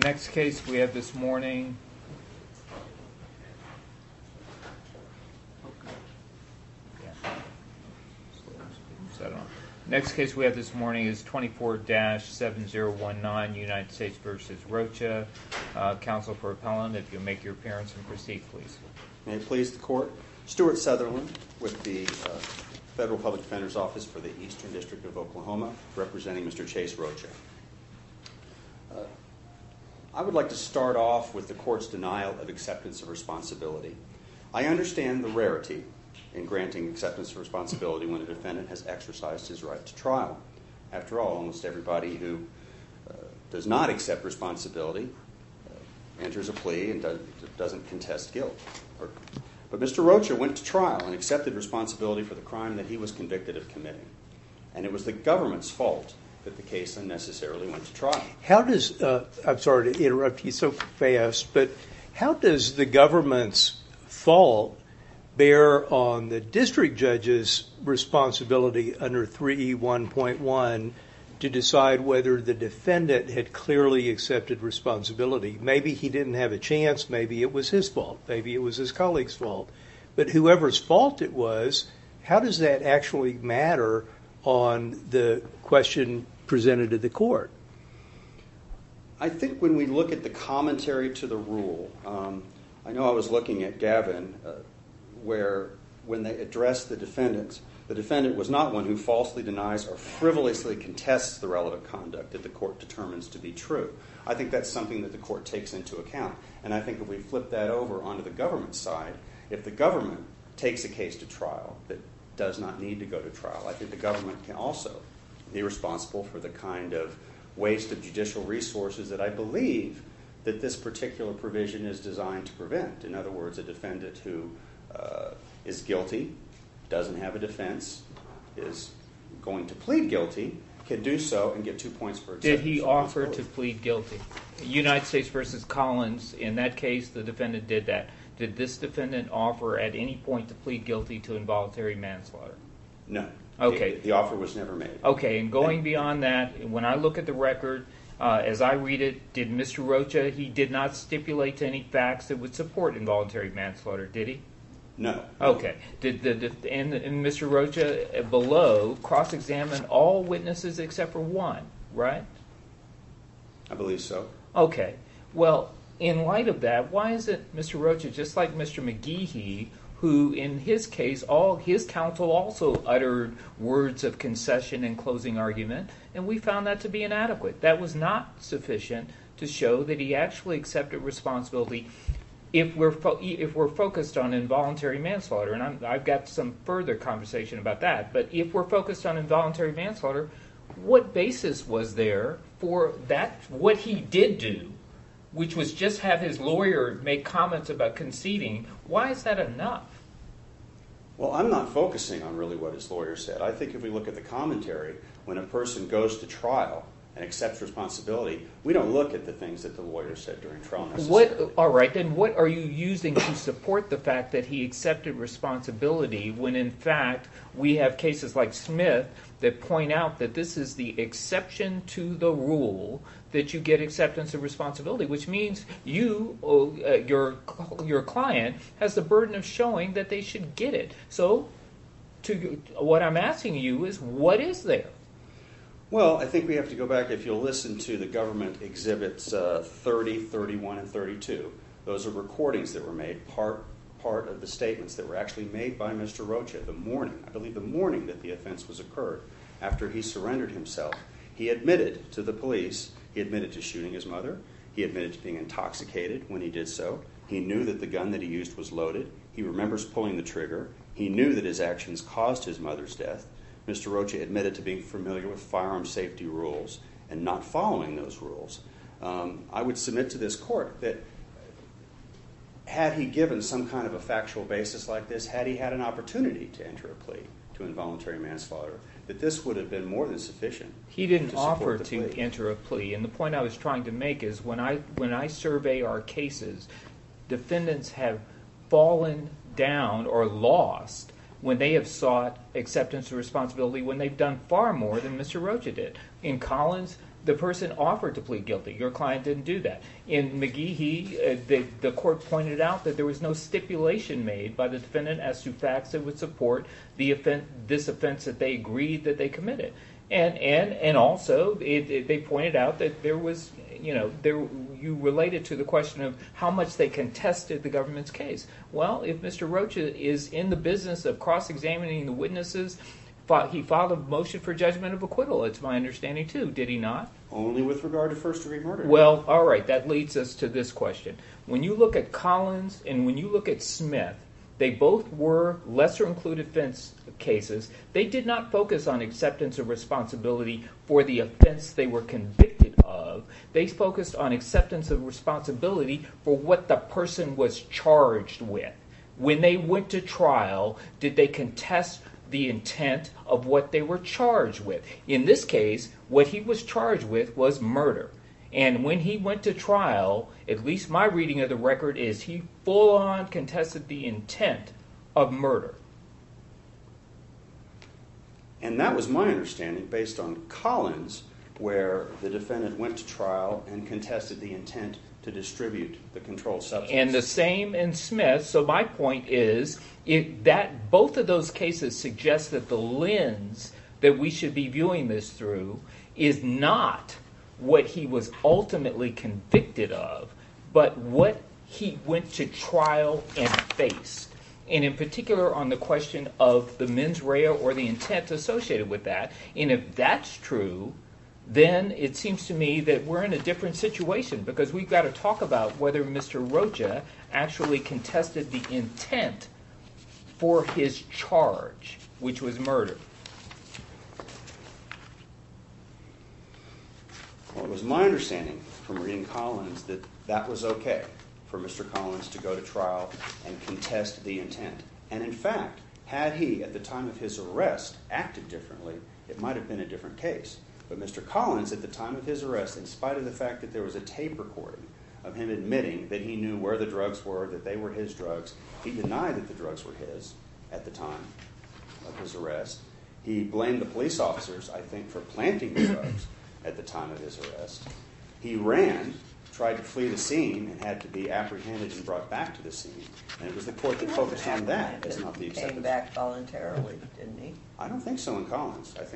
The next case we have this morning is 24-7019 United States v. Rocha. I would like to start off with the court's denial of acceptance of responsibility. I understand the rarity in granting acceptance of responsibility when a defendant has exercised his right to trial. After all, almost everybody who does not accept responsibility enters a plea and doesn't contest guilt. But Mr. Rocha went to trial and accepted responsibility for the crime that he was convicted of committing. And it was the government's fault that the case unnecessarily went to trial. How does, I'm sorry to interrupt you so fast, but how does the government's fault bear on the district judge's responsibility under 3E1.1 to decide whether the defendant had clearly accepted responsibility? Maybe he didn't have a chance, maybe it was his fault, maybe it was his colleague's fault. But whoever's fault it was, how does that actually matter on the question presented to the court? I think when we look at the commentary to the rule, I know I was looking at Gavin where when they addressed the defendants, the defendant was not one who falsely denies or frivolously contests the relevant conduct that the court determines to be true. I think that's something that the court takes into account. And I think if we flip that over onto the government's side, if the government takes a case to trial that does not need to go to trial, I think the government can also be responsible for the kind of waste of judicial resources that I believe that this particular provision is designed to prevent. In other words, a defendant who is guilty, doesn't have a defense, is going to plead guilty, can do so and get two points for acceptance. Did he offer to plead guilty? United States v. Collins, in that case, the defendant did that. Did this defendant offer at any point to plead guilty to involuntary manslaughter? No. Okay. That offer was never made. And going beyond that, when I look at the record, as I read it, did Mr. Rocha, he did not stipulate any facts that would support involuntary manslaughter, did he? No. Okay. Did Mr. Rocha below cross-examine all witnesses except for one, right? I believe so. Okay. Well, in light of that, why is it Mr. Rocha, just like Mr. McGeehy, who in his case, his counsel also uttered words of concession and closing argument, and we found that to be inadequate. That was not sufficient to show that he actually accepted responsibility. If we're focused on involuntary manslaughter, and I've got some further conversation about that, but if we're focused on involuntary manslaughter, what basis was there for that, what he did do, which was just have his lawyer make comments about conceding. Why is that enough? Well, I'm not focusing on really what his lawyer said. I think if we look at the commentary, when a person goes to trial and accepts responsibility, we don't look at the things that the lawyer said during trial, necessarily. All right. Then what are you using to support the fact that he accepted responsibility when, in fact, we have cases like Smith that point out that this is the exception to the rule that you accepted acceptance of responsibility, which means you, your client, has the burden of showing that they should get it. What I'm asking you is what is there? Well, I think we have to go back. If you'll listen to the government exhibits 30, 31, and 32, those are recordings that were made, part of the statements that were actually made by Mr. Rocha the morning, I believe the morning that the offense was occurred, after he surrendered himself. He admitted to the police, he admitted to shooting his mother, he admitted to being intoxicated when he did so, he knew that the gun that he used was loaded, he remembers pulling the trigger, he knew that his actions caused his mother's death, Mr. Rocha admitted to being familiar with firearm safety rules and not following those rules. I would submit to this court that had he given some kind of a factual basis like this, had he had an opportunity to enter a plea to involuntary manslaughter, that this would have been more than sufficient to support the plea. He didn't offer to enter a plea, and the point I was trying to make is when I survey our cases, defendants have fallen down or lost when they have sought acceptance of responsibility when they've done far more than Mr. Rocha did. In Collins, the person offered to plead guilty, your client didn't do that. In McGee, the court pointed out that there was no stipulation made by the defendant as to facts that would support this offense that they agreed that they committed. And also, they pointed out that there was, you know, you related to the question of how much they contested the government's case. Well, if Mr. Rocha is in the business of cross-examining the witnesses, he filed a motion for judgment of acquittal, it's my understanding, too. Did he not? Only with regard to first degree murder. Well, alright, that leads us to this question. When you look at Collins and when you look at Smith, they both were lesser-included offenses. They did not focus on acceptance of responsibility for the offense they were convicted of. They focused on acceptance of responsibility for what the person was charged with. When they went to trial, did they contest the intent of what they were charged with? In this case, what he was charged with was murder. And when he went to trial, at least my reading of the record is he full-on contested the intent of murder. And that was my understanding, based on Collins, where the defendant went to trial and contested the intent to distribute the controlled substance. And the same in Smith. So my point is, both of those cases suggest that the lens that we should be viewing this through is not what he was ultimately convicted of, but what he went to trial and faced. And in particular on the question of the mens rea or the intent associated with that. And if that's true, then it seems to me that we're in a different situation, because we've got to talk about whether Mr. Rocha actually contested the intent for his charge, which was murder. Well, it was my understanding from reading Collins that that was okay, for Mr. Collins to go to trial and contest the intent. And in fact, had he, at the time of his arrest, acted differently, it might have been a different case. But Mr. Collins, at the time of his arrest, in spite of the fact that there was a tape recording of him admitting that he knew where the drugs were, that they were his drugs, he denied that the drugs were his at the time of his arrest. He blamed the police officers, I think, for planting the drugs at the time of his arrest. He ran, tried to flee the scene, and had to be apprehended and brought back to the scene. And it was the court that focused on that, not the acceptance. He came back voluntarily, didn't he? I don't think so in Collins. Oh,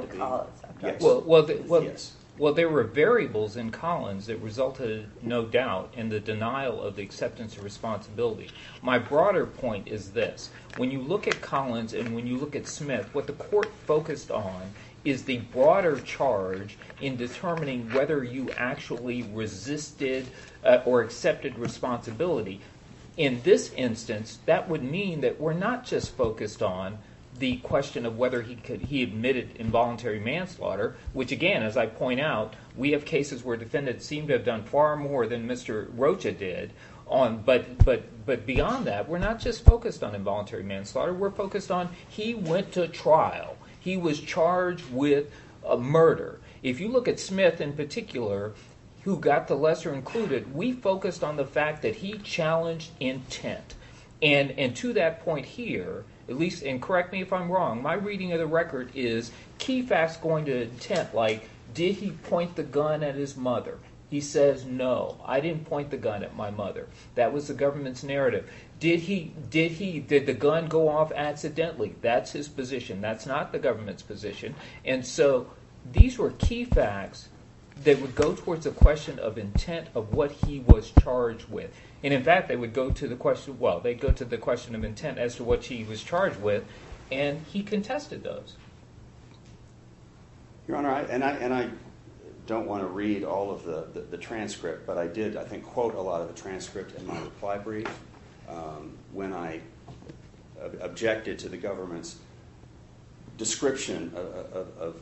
in Collins. Yes. Well, there were variables in Collins that resulted, no doubt, in the denial of the acceptance of responsibility. My broader point is this. When you look at Collins and when you look at Smith, what the court focused on is the broader charge in determining whether you actually resisted or accepted responsibility. In this instance, that would mean that we're not just focused on the question of whether he admitted involuntary manslaughter, which again, as I point out, we have cases where the defendant seemed to have done far more than Mr. Rocha did. But beyond that, we're not just focused on involuntary manslaughter. We're focused on he went to trial. He was charged with a murder. If you look at Smith in particular, who got the lesser included, we focused on the fact that he challenged intent. And to that point here, at least, and correct me if I'm wrong, my reading of the record is key facts going to intent, like did he point the gun at his mother? He says, no, I didn't point the gun at my mother. That was the government's narrative. Did the gun go off accidentally? That's his position. That's not the government's position. And so these were key facts that would go towards a question of intent of what he was charged with. And in fact, they would go to the question of intent as to what he was charged with, and he contested those. Your Honor, and I don't want to read all of the transcript, but I did, I think, quote a lot of the transcript in my reply brief when I objected to the government's description of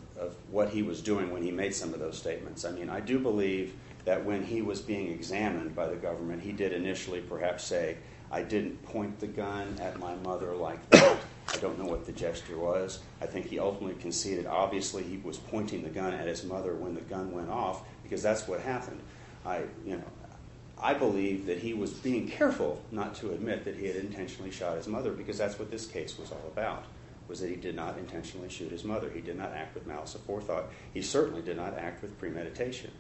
what he was doing when he made some of those statements. I mean, I do believe that when he was being examined by the government, he did initially perhaps say, I didn't point the gun at my mother like that. I don't know what the gesture was. I think he ultimately conceded, obviously, he was pointing the gun at his mother when the gun went off, because that's what happened. I believe that he was being careful not to admit that he had intentionally shot his mother, because that's what this case was all about, was that he did not intentionally shoot his He did not act with malice of forethought. He certainly did not act with premeditation.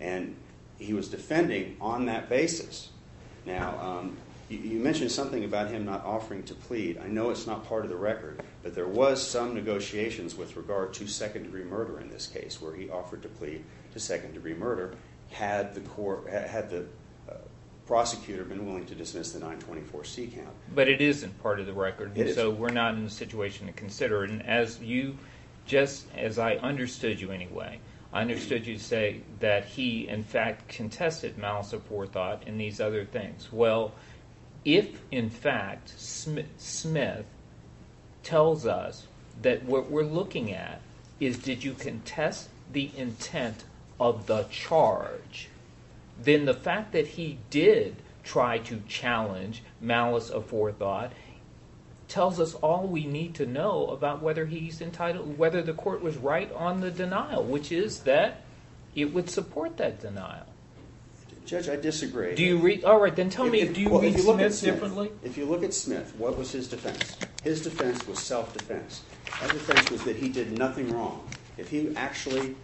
And he was defending on that basis. Now, you mentioned something about him not offering to plead. I know it's not part of the record, but there was some negotiations with regard to second degree murder in this case, where he offered to plead to second degree murder had the prosecutor been willing to dismiss the 924C count. But it isn't part of the record, so we're not in a situation to consider it. As you, just as I understood you anyway, I understood you to say that he, in fact, contested malice of forethought and these other things. Well, if in fact Smith tells us that what we're looking at is did you contest the intent of the charge, then the fact that he did try to challenge malice of forethought tells us all we need to know about whether he's entitled, whether the court was right on the denial, which is that it would support that denial. Judge, I disagree. Do you, all right, then tell me, do you look at Smith differently? If you look at Smith, what was his defense? His defense was self-defense. His defense was that he did nothing wrong. If he actually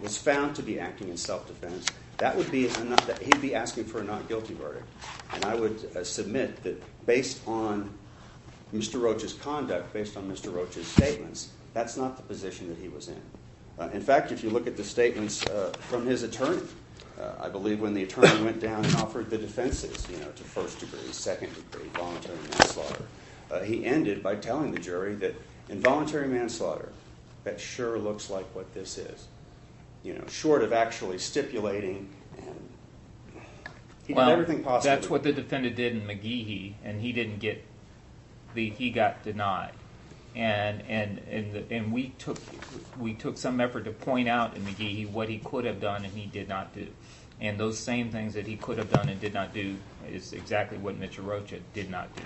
was found to be acting in self-defense, that would be, he'd be asking for a not guilty verdict. And I would submit that based on Mr. Roach's conduct, based on Mr. Roach's statements, that's not the position that he was in. In fact, if you look at the statements from his attorney, I believe when the attorney went down and offered the defenses, you know, to first degree, second degree, voluntary manslaughter, he ended by telling the jury that involuntary manslaughter, that sure looks like what this is, you know, short of actually stipulating and he did everything possible. Well, that's what the defendant did in McGeehy and he didn't get, he got denied and we took some effort to point out in McGeehy what he could have done and he did not do. And those same things that he could have done and did not do is exactly what Mr. Roach did not do.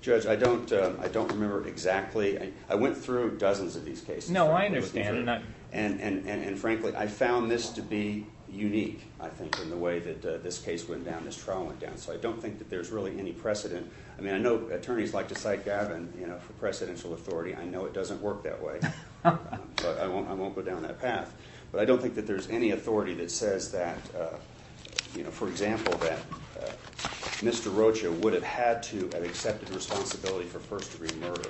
Judge, I don't, I don't remember exactly. I went through dozens of these cases. No, I understand. And frankly, I found this to be unique, I think, in the way that this case went down, this trial went down. So I don't think that there's really any precedent. I mean, I know attorneys like to cite Gavin, you know, for precedential authority. I know it doesn't work that way, but I won't, I won't go down that path, but I don't think that there's any authority that says that, you know, for example, that Mr. Roach would have had to have accepted responsibility for first degree murder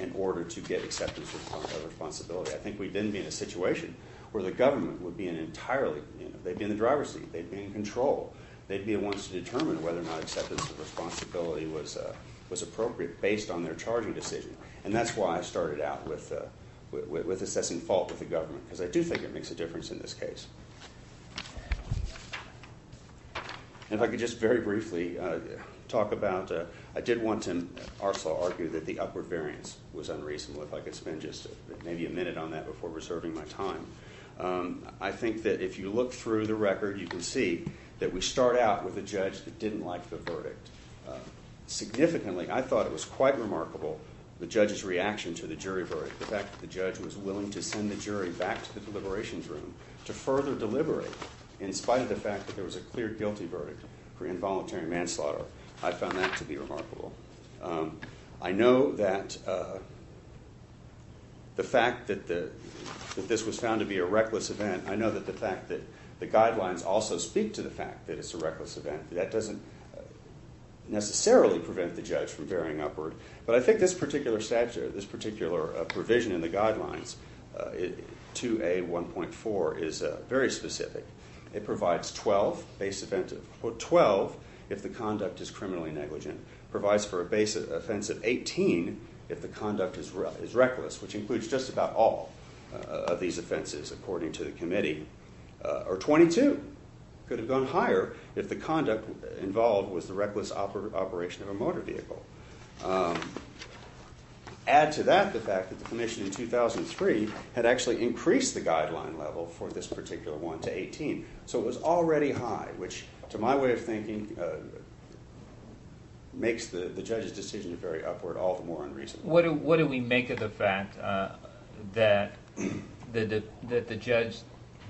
in order to get acceptance of responsibility. I think we didn't be in a situation where the government would be an entirely, you know, they'd be in the driver's seat, they'd be in control, they'd be the ones to determine whether or not acceptance of responsibility was appropriate based on their charging decision. And that's why I started out with assessing fault with the government, because I do think it makes a difference in this case. And if I could just very briefly talk about, I did want to also argue that the upward variance was unreasonable. If I could spend just maybe a minute on that before reserving my time. I think that if you look through the record, you can see that we start out with a judge that didn't like the verdict. Significantly, I thought it was quite remarkable, the judge's reaction to the jury verdict, the fact that the judge was willing to send the jury back to the deliberations room to further deliberate in spite of the fact that there was a clear guilty verdict for involuntary manslaughter. I found that to be remarkable. I know that the fact that this was found to be a reckless event, I know that the fact that the guidelines also speak to the fact that it's a reckless event. That doesn't necessarily prevent the judge from varying upward. But I think this particular provision in the guidelines, 2A1.4, is very specific. It provides 12, if the conduct is criminally negligent, provides for a base offense of 18 if the conduct is reckless, which includes just about all of these offenses, according to the committee, or 22 could have gone higher if the conduct involved was the reckless operation of a motor vehicle. Add to that the fact that the commission in 2003 had actually increased the guideline level for this particular one to 18. So it was already high, which to my way of thinking makes the judge's decision very upward all the more unreasonably. What do we make of the fact that the judge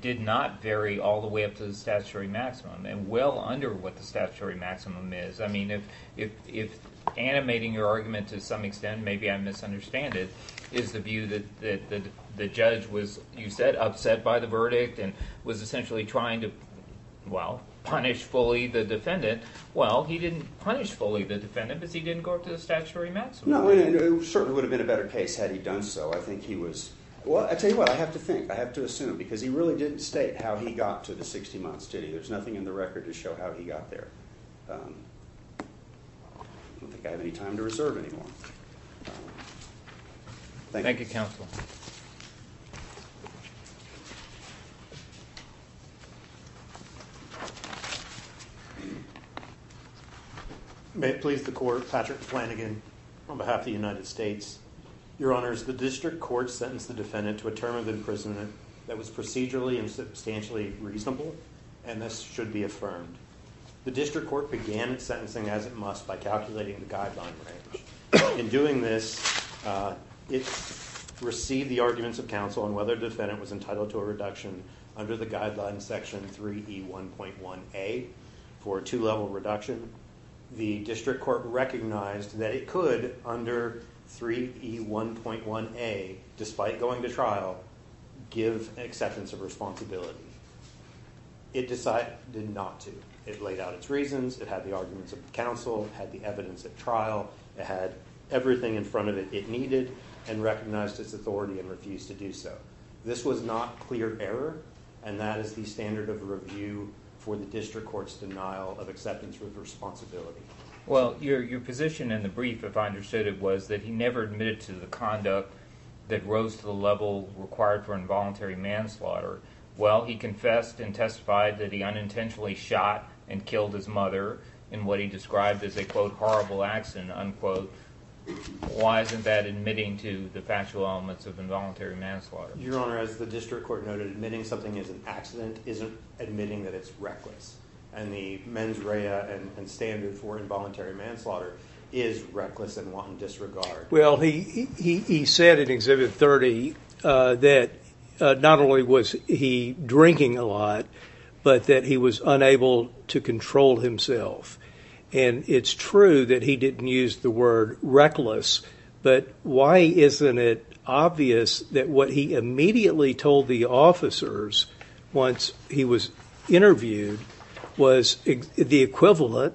did not vary all the way up to the statutory maximum and well under what the statutory maximum is? I mean, if animating your argument to some extent, maybe I misunderstand it, is the view that the judge was, you said, upset by the verdict and was essentially trying to, well, punish fully the defendant. Well, he didn't punish fully the defendant because he didn't go up to the statutory maximum. No, it certainly would have been a better case had he done so. I think he was, well, I tell you what, I have to think, I have to assume, because he really didn't state how he got to the 60 months, did he? There's nothing in the record to show how he got there. I don't think I have any time to reserve any more. Thank you, counsel. May it please the court, Patrick Flanagan on behalf of the United States. Your honors, the district court sentenced the defendant to a term of imprisonment that was procedurally and substantially reasonable, and this should be affirmed. The district court began its sentencing as it must by calculating the guideline range. In doing this, it received the arguments of counsel on whether the defendant was entitled to a reduction under the guideline section 3E1.1A for a two-level reduction. The district court recognized that it could, under 3E1.1A, despite going to trial, give acceptance of responsibility. It decided not to. It laid out its reasons, it had the arguments of counsel, it had the evidence at trial, it had everything in front of it it needed, and recognized its authority and refused to do so. This was not clear error, and that is the standard of review for the district court's denial of acceptance with responsibility. Well, your position in the brief, if I understood it, was that he never admitted to the conduct that rose to the level required for involuntary manslaughter. Well, he confessed and testified that he unintentionally shot and killed his mother in what he described as a, quote, horrible accident, unquote. Why isn't that admitting to the factual elements of involuntary manslaughter? Your Honor, as the district court noted, admitting something is an accident isn't admitting that it's reckless, and the mens rea and standard for involuntary manslaughter is reckless and one disregarded. Well, he said in Exhibit 30 that not only was he drinking a lot, but that he was unable to control himself. And it's true that he didn't use the word reckless, but why isn't it obvious that what he immediately told the officers once he was interviewed was the equivalent,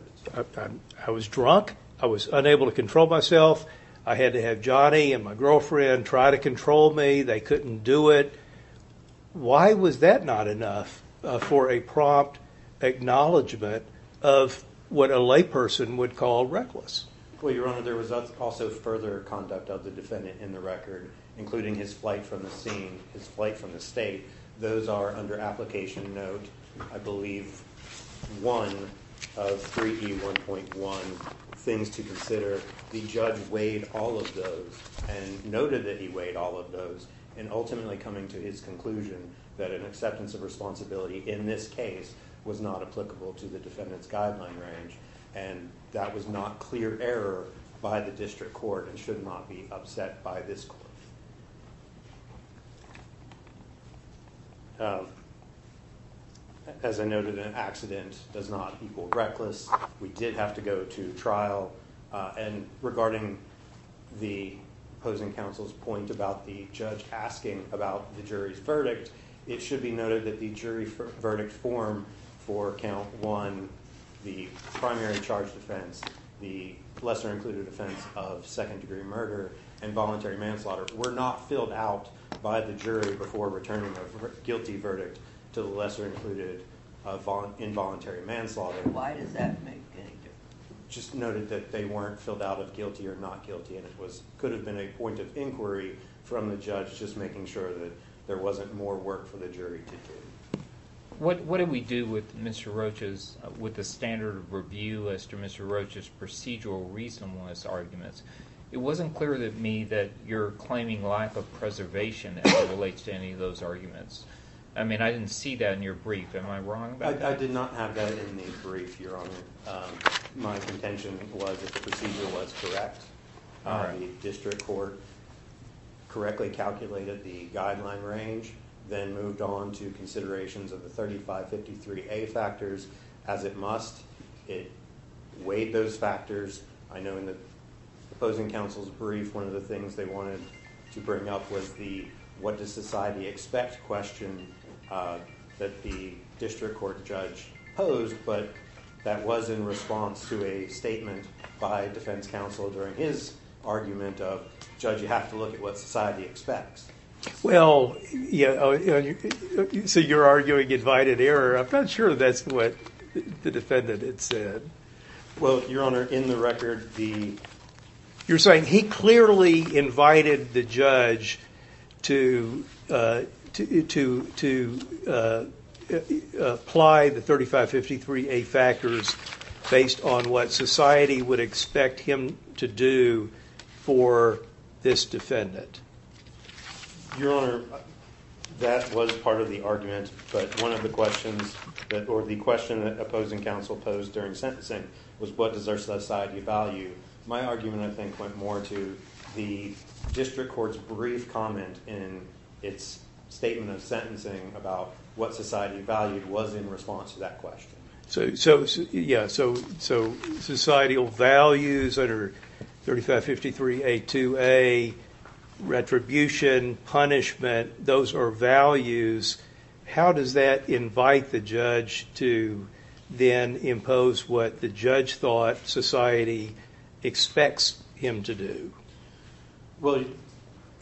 I was drunk, I was unable to control myself, I had to have Johnny and my girlfriend try to control me, they couldn't do it. Why was that not enough for a prompt acknowledgment of what a layperson would call reckless? Well, Your Honor, there was also further conduct of the defendant in the record, including his flight from the scene, his flight from the state. Those are under application note, I believe, 1 of 3E1.1, things to consider. The judge weighed all of those and noted that he weighed all of those, and ultimately coming to his conclusion that an acceptance of responsibility in this case was not applicable to the defendant's guideline range, and that was not clear error by the district court and should not be upset by this court. As I noted, an accident does not equal reckless. We did have to go to trial, and regarding the opposing counsel's point about the judge asking about the jury's verdict, it should be noted that the jury verdict form for count 1, the primary charge defense, the lesser-included offense of second-degree murder, and voluntary manslaughter were not filled out by the jury before returning a guilty verdict to the lesser-included involuntary manslaughter. Why does that make any difference? Just noted that they weren't filled out of guilty or not guilty, and it could have been a point of inquiry from the judge, just making sure that there wasn't more work for the jury to do. What did we do with Mr. Roach's, with the standard of review list, or Mr. Roach's procedural reasonableness arguments? It wasn't clear to me that you're claiming lack of preservation as it relates to any of those arguments. I mean, I didn't see that in your brief. Am I wrong about that? I did not have that in the brief, Your Honor. My contention was that the procedure was correct, the district court correctly calculated the guideline range, then moved on to considerations of the 3553A factors as it must, it weighed those factors. I know in the opposing counsel's brief, one of the things they wanted to bring up was the what does society expect question that the district court judge posed, but that was in response to a statement by defense counsel during his argument of, Judge, you have to look at what society expects. Well, so you're arguing invited error. I'm not sure that's what the defendant had said. Well, Your Honor, in the record, the... You're saying he clearly invited the judge to apply the 3553A factors based on what society would expect him to do for this defendant. Your Honor, that was part of the argument, but one of the questions, or the question that opposing counsel posed during sentencing was what does our society value? My argument, I think, went more to the district court's brief comment in its statement of sentencing about what society valued was in response to that question. So, yeah, so societal values that are 3553A2A, retribution, punishment, those are values. How does that invite the judge to then impose what the judge thought society expects him to do? Well,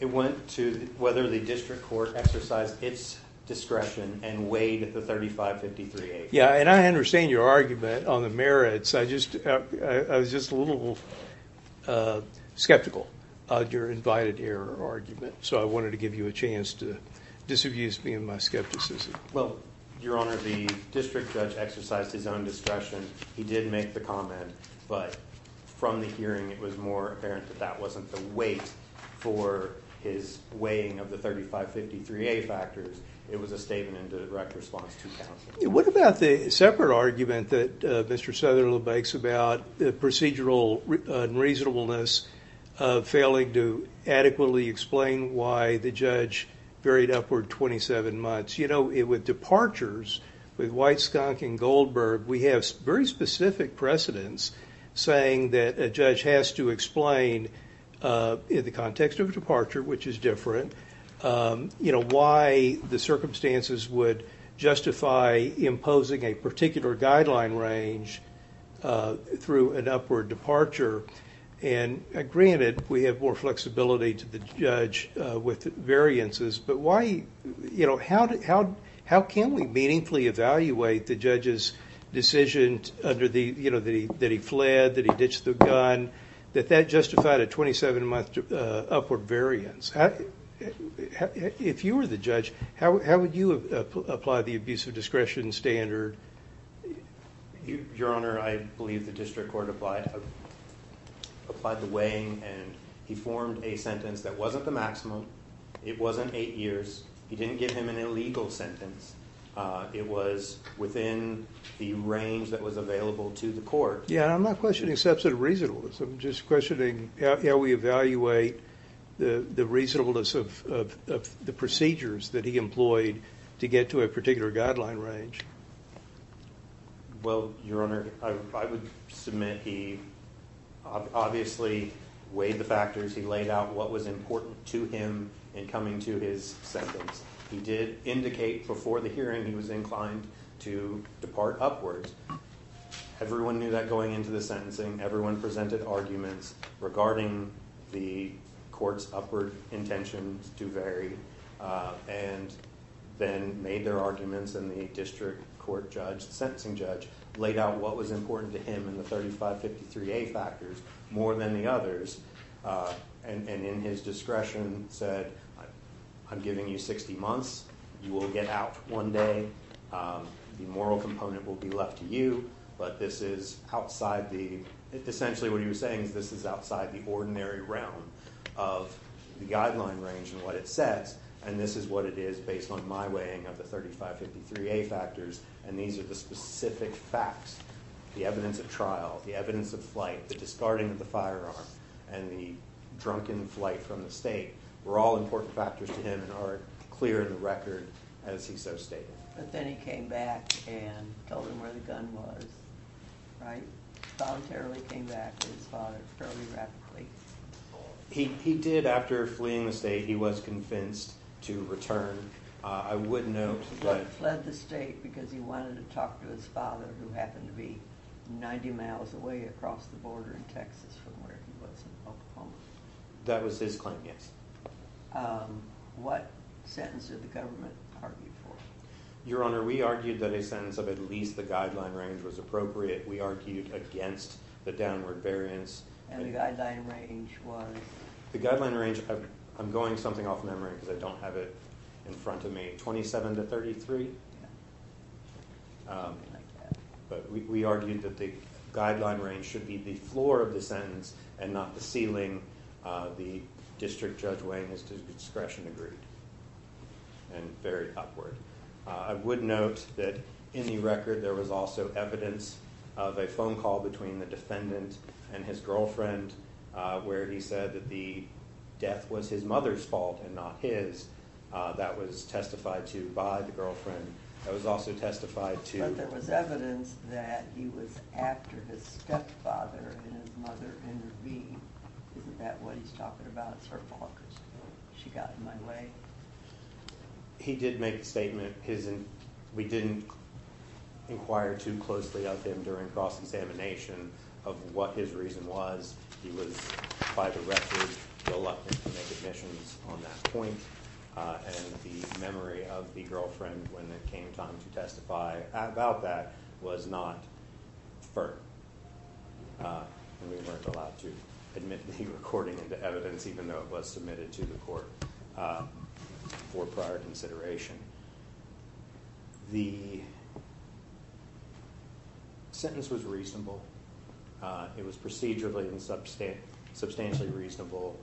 it went to whether the district court exercised its discretion and weighed the 3553A. Yeah, and I understand your argument on the merits. I was just a little skeptical of your invited error argument, so I wanted to give you a little bit of skepticism. Well, Your Honor, the district judge exercised his own discretion. He did make the comment, but from the hearing, it was more apparent that that wasn't the weight for his weighing of the 3553A factors. It was a statement in the direct response to counsel. What about the separate argument that Mr. Southerland makes about the procedural unreasonableness of failing to adequately explain why the judge buried upward 27 months? You know, with departures, with White, Skonk, and Goldberg, we have very specific precedents saying that a judge has to explain in the context of a departure, which is different, you know, why the circumstances would justify imposing a particular guideline range through an upward departure. And granted, we have more flexibility to the judge with variances, but how can we meaningfully evaluate the judge's decision that he fled, that he ditched the gun, that that justified a 27-month upward variance? If you were the judge, how would you apply the abuse of discretion standard? Your Honor, I believe the district court applied the weighing, and he formed a sentence that wasn't the maximum. It wasn't eight years. He didn't give him an illegal sentence. It was within the range that was available to the court. Yeah, I'm not questioning substantive reasonableness. I'm just questioning how we evaluate the reasonableness of the procedures that he employed to get to a particular guideline range. Well, Your Honor, I would submit he obviously weighed the factors. He laid out what was important to him in coming to his sentence. He did indicate before the hearing he was inclined to depart upwards. Everyone knew that going into the sentencing. Everyone presented arguments regarding the court's upward intentions to vary, and then made their arguments, and the district court judge, the sentencing judge, laid out what was important to him in the 3553A factors more than the others, and in his discretion said, I'm giving you 60 months, you will get out one day, the moral component will be left to you, but this is outside the... Essentially, what he was saying is this is outside the ordinary realm of the guideline range and what it says, and this is what it is based on my weighing of the 3553A factors, and these are the specific facts. The evidence of trial, the evidence of flight, the discarding of the firearm, and the drunken flight from the state were all important factors to him and are clear in the record as he so stated. But then he came back and told him where the gun was, right? Voluntarily came back to his father fairly rapidly. He did, after fleeing the state, he was convinced to return. I wouldn't know... He fled the state because he wanted to talk to his father who happened to be 90 miles away across the border in Texas from where he was in Oklahoma. That was his claim, yes. What sentence did the government argue for? Your Honor, we argued that a sentence of at least the guideline range was appropriate. We argued against the downward variance. And the guideline range was? The guideline range... I'm going something off memory because I don't have it in front of me. 27 to 33? Yeah. Something like that. But we argued that the guideline range should be the floor of the sentence and not the ceiling the district judge weighing his discretion agreed, and very awkward. I would note that in the record there was also evidence of a phone call between the defendant and his girlfriend where he said that the death was his mother's fault and not his. That was testified to by the girlfriend. That was also testified to... But there was evidence that he was after his stepfather and his mother, Henry V. Isn't that what he's talking about? It's her fault because she got in my way. But he did make the statement, we didn't inquire too closely of him during cross-examination of what his reason was. He was, by the record, reluctant to make admissions on that point and the memory of the girlfriend when it came time to testify about that was not firm. And we weren't allowed to admit the recording of the evidence even though it was submitted to the court for prior consideration. The sentence was reasonable. It was procedurally and substantially reasonable.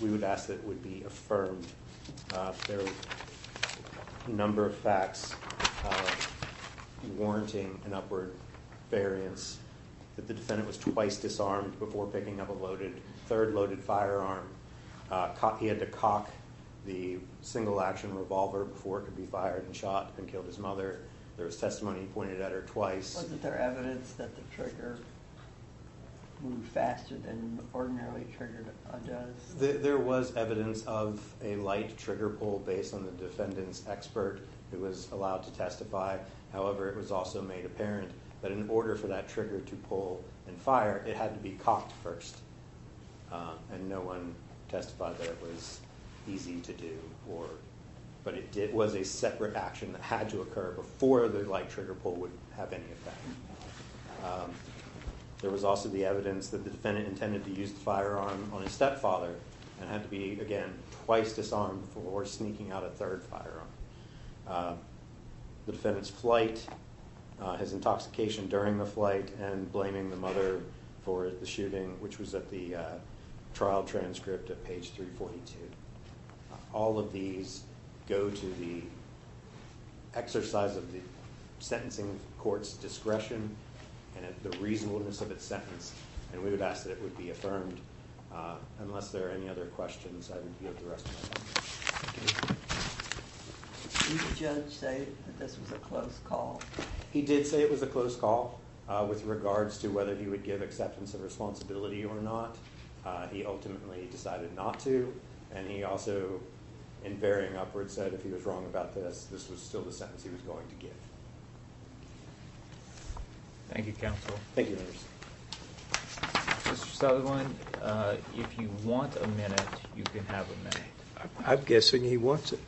We would ask that it would be affirmed. There were a number of facts warranting an upward variance that the defendant was twice disarmed before picking up a third loaded firearm. He had to cock the single action revolver before it could be fired and shot and killed his mother. There was testimony pointed at her twice. Wasn't there evidence that the trigger moved faster than the ordinarily triggered does? There was evidence of a light trigger pull based on the defendant's expert who was allowed to testify. However, it was also made apparent that in order for that trigger to pull and fire, it had to be cocked first and no one testified that it was easy to do, but it was a separate action that had to occur before the light trigger pull would have any effect. There was also the evidence that the defendant intended to use the firearm on his stepfather and had to be, again, twice disarmed before sneaking out a third firearm. The defendant's flight, his intoxication during the flight, and blaming the mother for the shooting, which was at the trial transcript at page 342. All of these go to the exercise of the sentencing court's discretion and the reasonableness of its sentence, and we would ask that it would be affirmed, unless there are any other questions. The defense would not be able to rest tonight. Thank you. Did the judge say that this was a closed call? He did say it was a closed call with regards to whether he would give acceptance of responsibility or not. He ultimately decided not to, and he also, in varying upwards, said if he was wrong about this, this was still the sentence he was going to give. Thank you, counsel. Thank you, Mr. Stoeglein. Mr. Stoeglein, if you want a minute, you can have a minute. I'm guessing he wants it.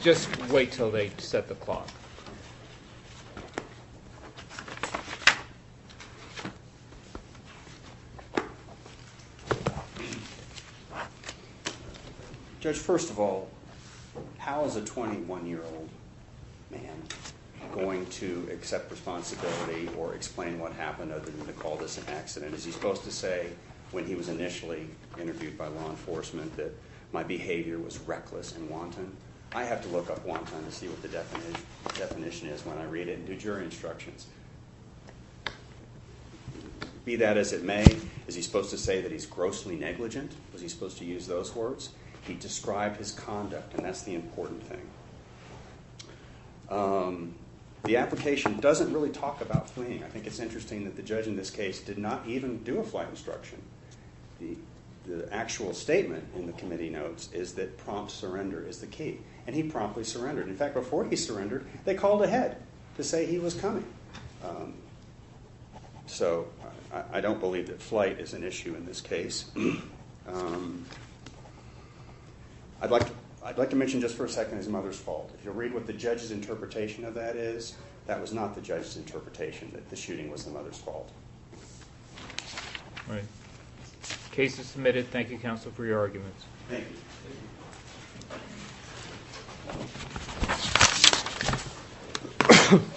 Just wait until they set the clock. Judge, first of all, how is a 21-year-old man going to accept responsibility or explain what happened? Are they going to call this an accident? Is he supposed to say, when he was initially interviewed by law enforcement, that my behavior was reckless and wanton? I have to look up wanton to see what the definition is when I read it in new jury instructions. Be that as it may, is he supposed to say that he's grossly negligent? Was he supposed to use those words? He described his conduct, and that's the important thing. The application doesn't really talk about fleeing. I think it's interesting that the judge in this case did not even do a flight instruction. The actual statement in the committee notes is that prompt surrender is the key, and he promptly surrendered. In fact, before he surrendered, they called ahead to say he was coming. So I don't believe that flight is an issue in this case. I'd like to mention just for a second his mother's fault. If you'll read what the judge's interpretation of that is, that was not the judge's interpretation. The shooting was the mother's fault. All right. The case is submitted. Thank you, counsel, for your arguments. Thank you.